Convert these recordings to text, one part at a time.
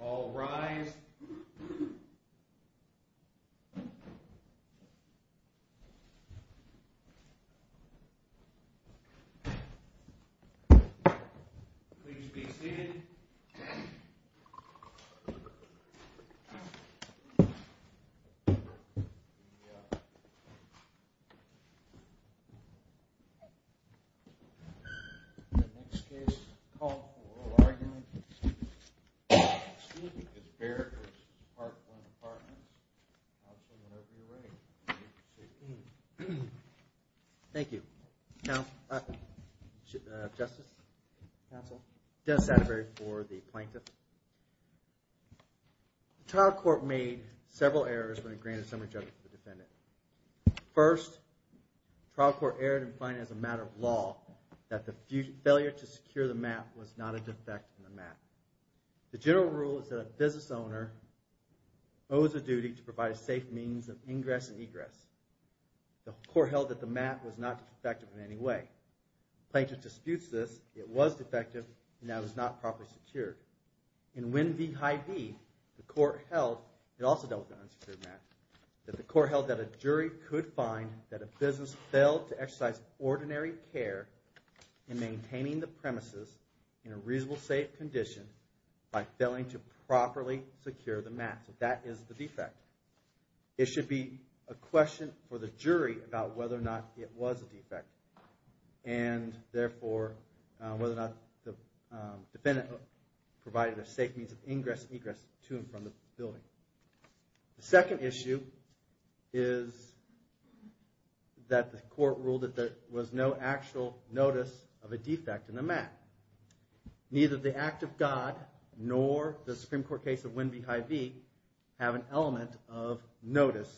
All rise. Please be seated. The next case called for oral argument. Excuse me, this is Baird v. Park Glen Apartments. I'll turn it over to you, Ray. Thank you. Thank you. Justice? Counsel? Dennis Satterbury for the Plaintiff. The trial court made several errors when it granted summary judgment to the defendant. First, the trial court erred in finding as a matter of law that the failure to secure the mat was not a defect in the mat. The general rule is that a business owner owes a duty to provide a safe means of ingress and egress. The court held that the mat was not defective in any way. The Plaintiff disputes this. It was defective and that it was not properly secured. In Win v. Hy-Vee, the court held, it also dealt with an unsecured mat, that the court held that a jury could find that a business failed to exercise ordinary care in maintaining the premises in a reasonable, safe condition by failing to properly secure the mat. That is the defect. It should be a question for the jury about whether or not it was a defect and therefore whether or not the defendant provided a safe means of ingress and egress to and from the building. The second issue is that the court ruled that there was no actual notice of a defect in the mat. Neither the act of God nor the Supreme Court case of Win v. Hy-Vee have an element of notice.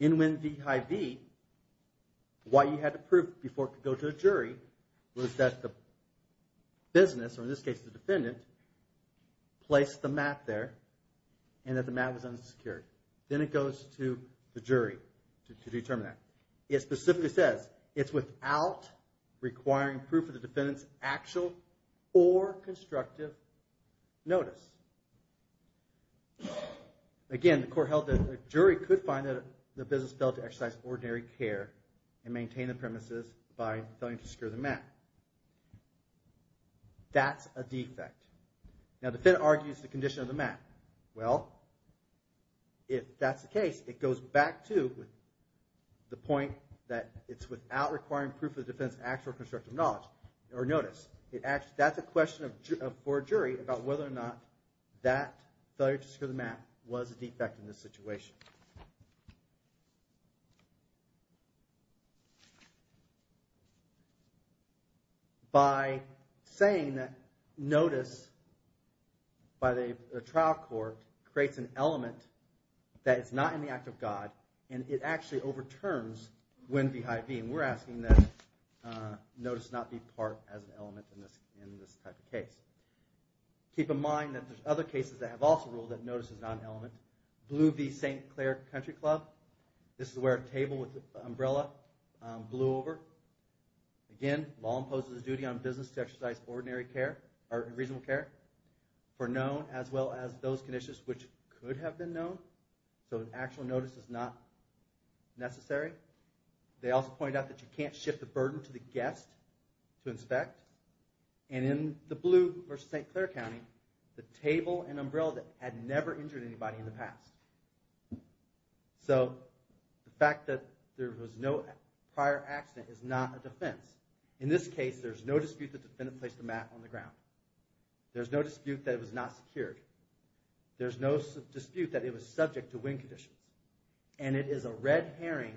In Win v. Hy-Vee, what you had to prove before it could go to a jury was that the business, or in this case the defendant, placed the mat there and that the mat was unsecured. Then it goes to the jury to determine that. It specifically says it's without requiring proof of the defendant's actual or constructive notice. Again, the court held that a jury could find that the business failed to exercise ordinary care and maintain the premises by failing to secure the mat. That's a defect. Now the defendant argues the condition of the mat. Well, if that's the case, it goes back to the point that it's without requiring proof of the defendant's actual or constructive notice. That's a question for a jury about whether or not that failure to secure the mat was a defect in this situation. By saying that notice by the trial court creates an element that it's not in the act of God and it actually overturns Gwen v. Hy-Vee. We're asking that notice not be part as an element in this type of case. Keep in mind that there's other cases that have also ruled that notice is not an element. Blue v. St. Clair Country Club. This is where a table with an umbrella blew over. Again, the law imposes the duty on business to exercise reasonable care for known as well as those conditions which could have been known. So an actual notice is not necessary. They also pointed out that you can't shift the burden to the guest to inspect. And in the Blue v. St. Clair County, the table and umbrella had never injured anybody in the past. So, the fact that there was no prior accident is not a defense. In this case, there's no dispute that the there's no dispute that it was not secured. There's no dispute that it was subject to wind condition. And it is a red herring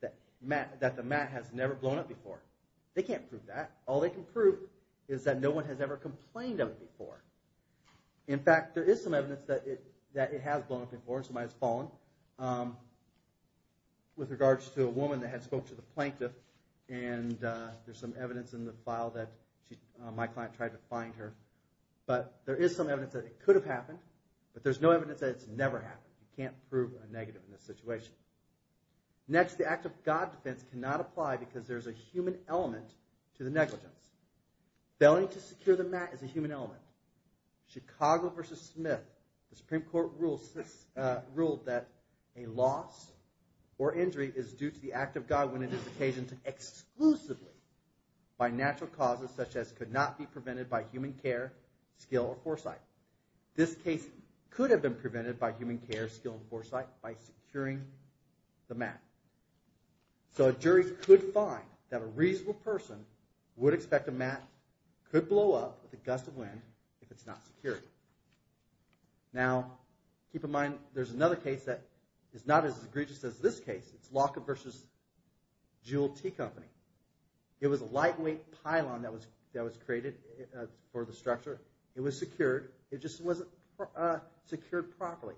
that the mat has never blown up before. They can't prove that. All they can prove is that no one has ever complained of it before. In fact, there is some evidence that it has blown up before. Somebody has fallen. With regards to a woman that had spoke to the plaintiff and there's some evidence in the file that my client tried to find her. But there is some evidence that it could have happened. But there's no evidence that it's never happened. You can't prove a negative in this situation. Next, the Act of God defense cannot apply because there's a human element to the negligence. Failing to secure the mat is a human element. Chicago v. Smith, the Supreme Court ruled that a loss or injury is due to the Act of God when it is occasioned exclusively by natural causes such as could not be prevented by human care, skill, or foresight. This case could have been prevented by human care, skill, and foresight by securing the mat. So a jury could find that a reasonable person would expect a mat could blow up with a gust of wind if it's not secured. Now, keep in mind there's another case that is not as egregious as this case. It's Locker v. Jules T. Company. It was a lightweight pylon that was created for the structure. It was secured. It just wasn't secured properly.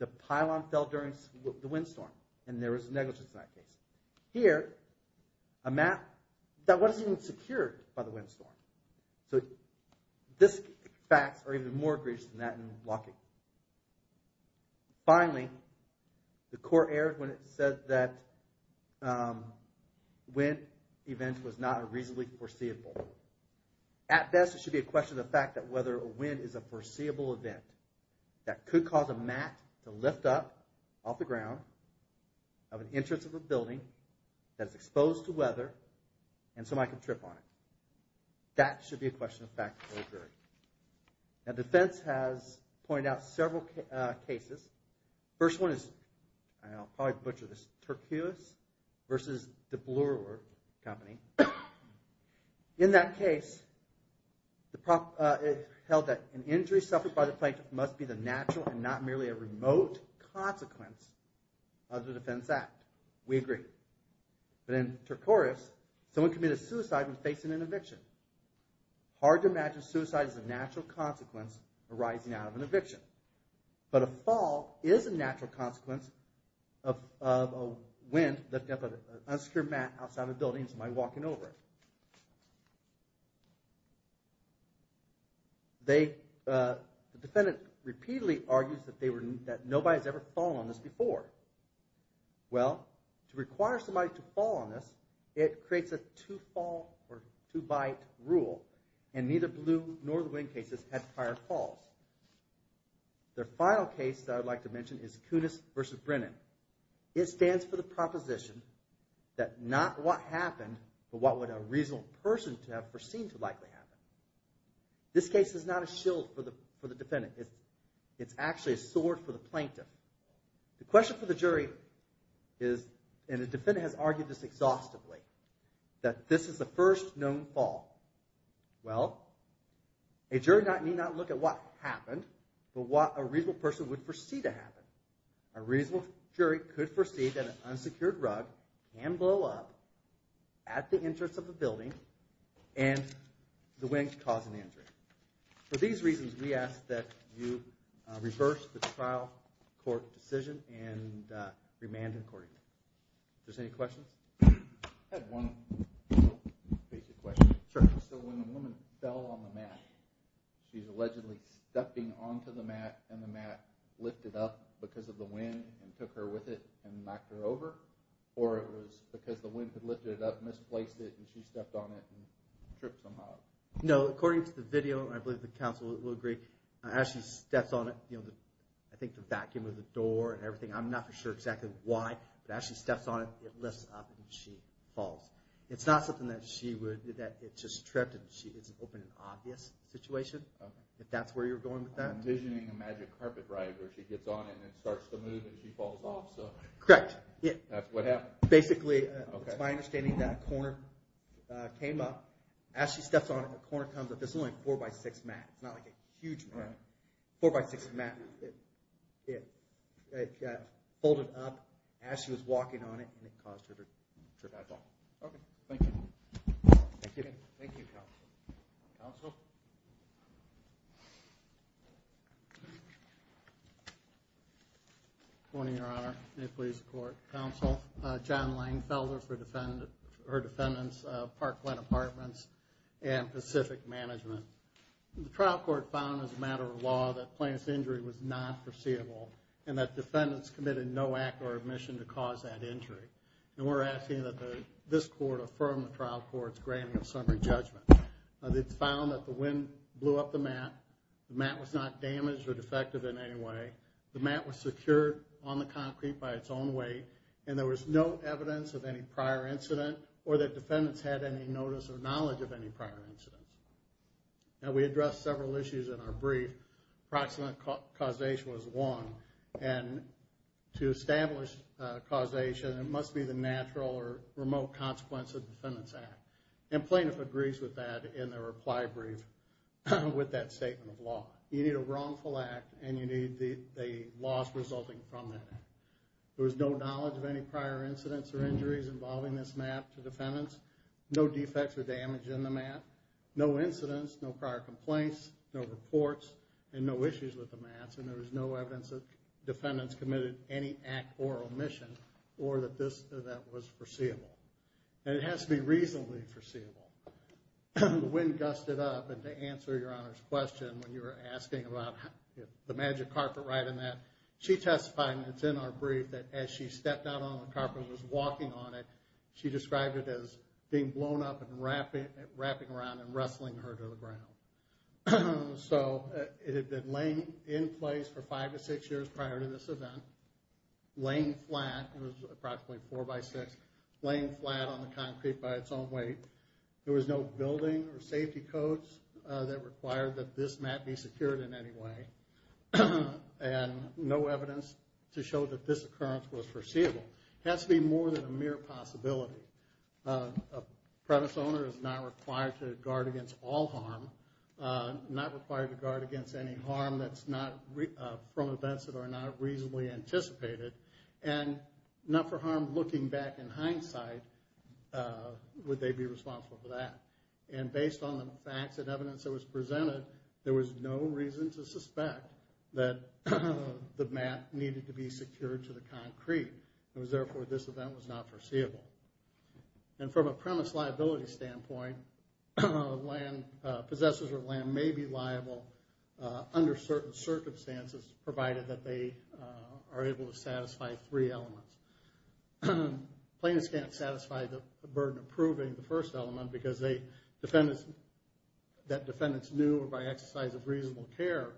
The pylon fell during the windstorm and there was a negligence in that case. Here, a mat that wasn't even secured by the windstorm. So these facts are even more egregious than that in Locker. Finally, the court erred when it said that wind events was not reasonably foreseeable. At best, it should be a question of the fact that whether a wind is a foreseeable event that could cause a mat to lift up off the ground of an entrance of a building that is exposed to weather and somebody could trip on it. That should be a question of fact for a jury. Now, defense has pointed out several cases. The first one is, and I'll probably butcher this, Turquoise v. De Bloor Company. In that case, it held that an injury suffered by the plankton must be the natural and not merely a remote consequence of the defense act. We agree. But in Turquoise, someone committed suicide when facing an eviction. Hard to imagine suicide as a natural consequence arising out of an eviction. But a fall is a natural consequence of a wind lifting up an unsecure mat outside of a building and somebody walking over it. The defendant repeatedly argues that nobody has ever fallen on this before. Well, to require somebody to fall on this, it creates a two-fall or two-bite rule. And neither Bloor nor the cases had prior falls. The final case that I'd like to mention is Kunis v. Brennan. It stands for the proposition that not what happened but what would a reasonable person have foreseen to likely happen. This case is not a shield for the defendant. It's actually a sword for the plankton. The question for the jury is, and the defendant has argued this exhaustively, that this is the first known fall. Well, a jury may not look at what happened but what a reasonable person would foresee to happen. A reasonable jury could foresee that an unsecured rug can blow up at the entrance of a building and the wind causing the injury. For these reasons, we ask that you reverse the trial court decision and remand accordingly. Are there any questions? I had one basic question. So when a woman fell on the mat, she's allegedly stepping onto the mat and the mat lifted up because of the wind and took her with it and knocked her over? Or it was because the wind had lifted it up and misplaced it and she stepped on it and tripped somehow? No, according to the video, I believe the counsel will agree, as she steps on it, I think the vacuum of the door and everything, I'm not for sure exactly why, but as she steps on it, it lifts up and she falls. It's not something that she would, that it just tripped and it's an open and obvious situation if that's where you're going with that. I'm envisioning a magic carpet ride where she gets on it and it starts to move and she falls off. Correct. That's what happened. Basically, it's my understanding that a corner came up, as she steps on it, a corner comes up. This is only a 4x6 mat. It's not like a huge mat. 4x6 mat It folded up as she was walking on it and it caused her to trip and fall. Okay, thank you. Thank you. Thank you, counsel. Counsel? Good morning, Your Honor. May it please the Court. Counsel, John Langfelder for her defendants, Parkland Apartments and Pacific Management. The trial court found, as a matter of law, that Plaintiff's injury was not foreseeable and that defendants committed no act or admission to cause that injury. And we're asking that this Court affirm the trial court's granting of summary judgment. It's found that the wind blew up the mat. The mat was not damaged or defective in any way. The mat was secured on the concrete by its own weight and there was no evidence of any prior incident or that defendants had any notice or knowledge of any prior incident. Now, we addressed several issues in our brief. Approximate causation was one. And to establish causation, it must be the natural or remote consequence of defendant's act. And Plaintiff agrees with that in their reply brief with that statement of law. You need a wrongful act and you need the loss resulting from that act. There was no knowledge of any prior incidents or injuries involving this mat to defendants. No defects or damage in the mat. No incidents, no prior complaints, no reports, and no issues with the mats. And there was no evidence that defendants committed any act or omission or that that was foreseeable. And it has to be reasonably foreseeable. The wind gusted up and to answer Your Honor's question when you were asking about the magic carpet ride and that, she testified, and it's in our brief, that as she stepped out on the carpet and was walking on it, she described it as being blown up and wrapping around and wrestling her to the ground. So it had been laying in place for five to six years prior to this event. Laying flat, it was approximately four by six, laying flat on the concrete by its own weight. There was no building or safety codes that required that this mat be secured in any way. And no evidence to show that this occurrence was foreseeable. It has to be more than a mere possibility. A premise owner is not required to guard against all harm. Not required to guard against any harm that's not from events that are not reasonably anticipated. And not for harm looking back in hindsight, would they be responsible for that? And based on the facts and evidence that was presented, there was no reason to suspect that the mat needed to be secured to the extent that it was not foreseeable. And from a premise liability standpoint, land, possessors of land may be liable under certain circumstances provided that they are able to satisfy three elements. Plaintiffs can't satisfy the burden of proving the first element because defendants knew by exercise of reasonable care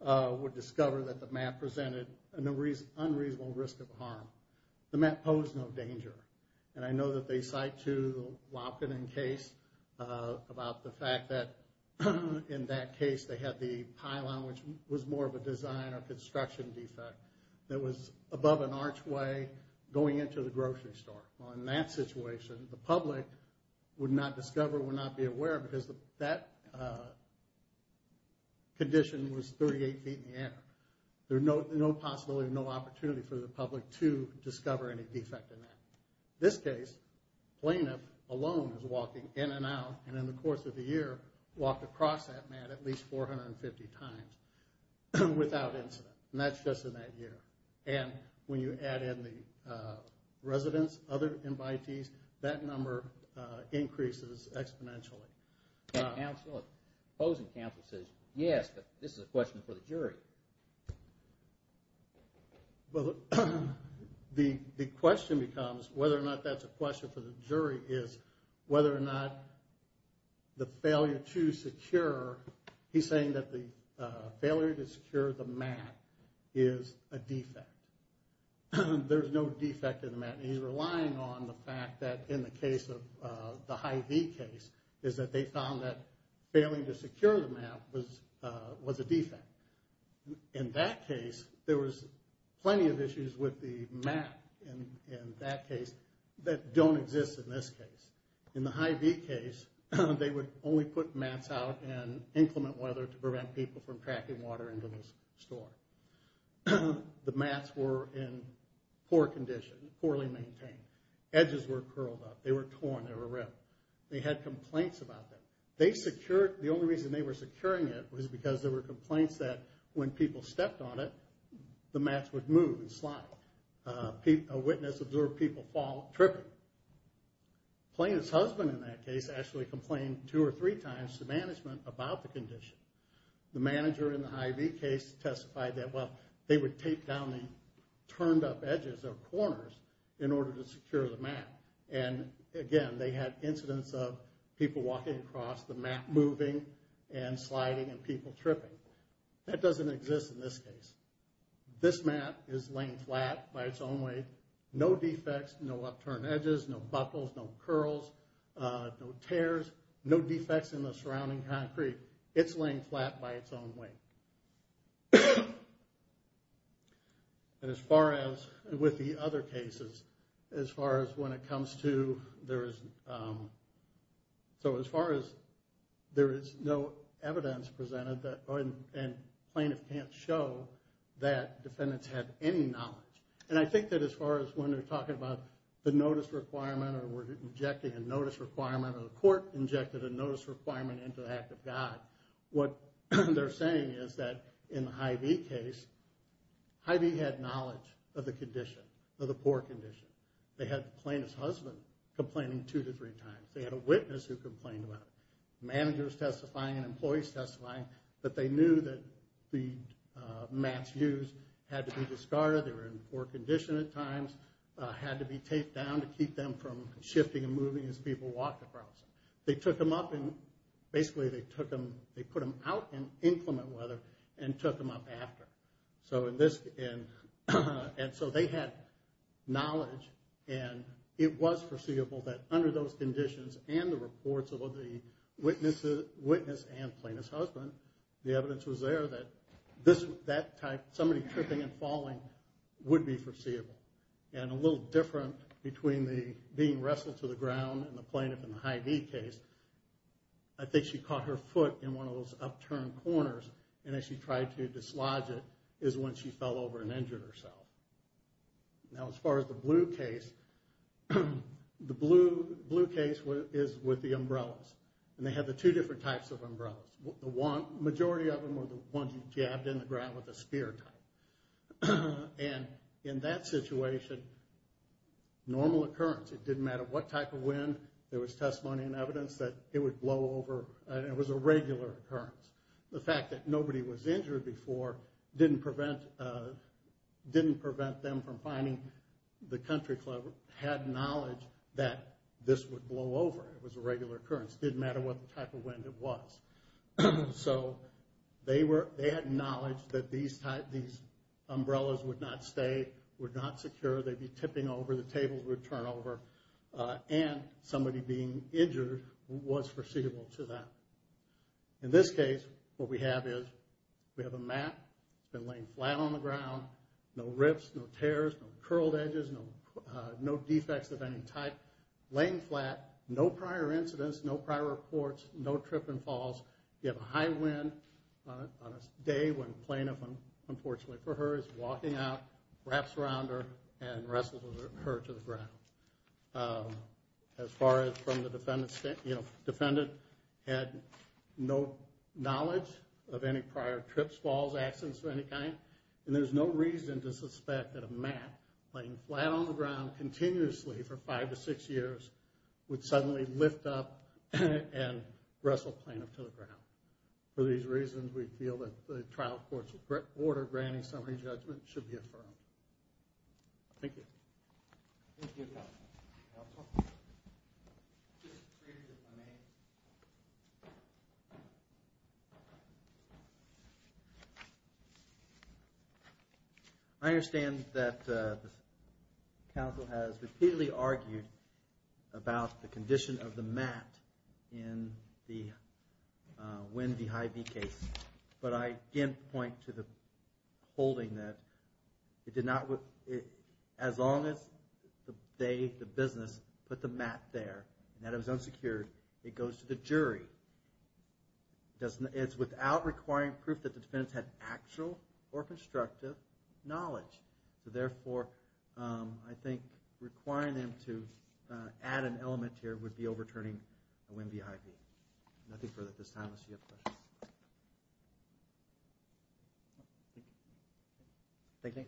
would discover that the mat presented an unreasonable risk of harm. The mat posed no danger. And I know that they cite to the Wopken and Case about the fact that in that case they had the pylon which was more of a design or construction defect that was above an archway going into the grocery store. Well, in that situation, the public would not discover, would not be aware because that condition was 38 feet in the air. There's no possibility, no opportunity for the public to discover any defect in that. This case, plaintiff alone is walking in and out and in the course of the year, walked across that mat at least 450 times without incident. And that's just in that year. And when you add in the residents, other invitees, that number increases exponentially. Opposing counsel says yes, but this is a question for the jury. Well, the question becomes whether or not that's a question for the jury is whether or not the failure to secure, he's saying that the failure to secure the mat is a defect. There's no defect in the mat. He's relying on the fact that in the case of the Hy-Vee case is that they found that failing to secure the mat was a defect. In that case, there was plenty of issues with the mat in that case that don't exist in this case. In the Hy-Vee case, they would only put mats out and inclement weather to prevent people from tracking water into the store. The mats were in poor condition, poorly maintained. Edges were curled up, they were torn, they were ripped. They had complaints about that. They secured, the only reason they were secure is that when people stepped on it, the mats would move and slide. A witness observed people fall, tripping. Plaintiff's husband in that case actually complained two or three times to management about the condition. The manager in the Hy-Vee case testified that, well, they would tape down the turned up edges or corners in order to secure the mat. And, again, they had incidents of people walking across the mat moving and sliding and people tripping. That doesn't exist in this case. This mat is laying flat by its own weight. No defects, no upturned edges, no buckles, no curls, no tears, no defects in the surrounding concrete. It's laying flat by its own weight. And as far as with the other cases, as far as when it comes to, there is, so as far as there is no evidence presented and plaintiff can't show that defendants have any knowledge. And I think that as far as when they're talking about the notice requirement or were injecting a notice requirement or the court injected a notice requirement into the act of God, what they're saying is that in the Hy-Vee case, Hy-Vee had knowledge of the condition, of the poor condition. They had a plaintiff's husband complaining two to three times. They had a witness who complained about it. Managers testifying and employees testifying that they knew that the mats used had to be discarded. They were in poor condition at times. Had to be taped down to keep them from shifting and moving as people walked across. They took them up and basically they took them, they put them out in inclement weather and took them up after. So in this, and so they had knowledge and it was foreseeable that under those conditions and the reports of the witness and plaintiff's husband, the evidence was there that that type, somebody tripping and falling, would be foreseeable. And a little different between the being wrestled to the ground and the plaintiff in the Hy-Vee case, I think she caught her foot in one of those upturned corners and as she tried to dislodge it is when she fell over and injured herself. Now as far as the blue case, the blue case is with the umbrellas. And they had the two different types of umbrellas. The majority of them were the ones you jabbed in the ground with a spear type. And in that situation, normal occurrence, it didn't matter what type of wind, there was testimony and evidence that it would blow over and it was a regular occurrence. The fact that nobody was injured before didn't prevent them from finding the country club had knowledge that this would blow over, it was a regular occurrence, didn't matter what type of wind it was. So they had knowledge that these umbrellas would not stay, would not secure, they'd be tipping over, the tables would turn over, and somebody being injured was foreseeable to them. In this case, what we have is we have a mat laying flat on the ground, no rips, no tears, no curled edges, no defects of any type, laying flat, no prior incidents, no prior reports, no trip and falls, you have a high wind on a day when the plaintiff, unfortunately for her, is walking out, wraps around her, and wrestles her to the ground. As far as from the defendant's standpoint, the defendant had no knowledge of any prior trips, falls, accidents of any kind, and there's no reason to suspect that a mat laying flat on the ground continuously for five to six years would suddenly lift up and wrestle plaintiff to the ground. For these reasons, we feel that the trial court's order granting summary judgment should be affirmed. Thank you. Thank you. Thank you. I understand that the counsel has repeatedly argued about the condition of the mat in the Winn v. Hyde v. Case, but I again point to the holding that it did not as long as they, the business, put the mat there, and that it was unsecured, it goes to the jury. It's without requiring proof that the defendants had actual or constructive knowledge. Therefore, I think requiring them to add an element here would be overturning a Winn v. Hyde v. Nothing further at this time unless you have questions. Thank you.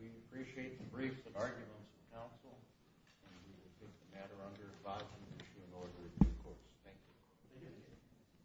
We appreciate the brief arguments of counsel. The matter under 5-2 in order of due course. Thank you.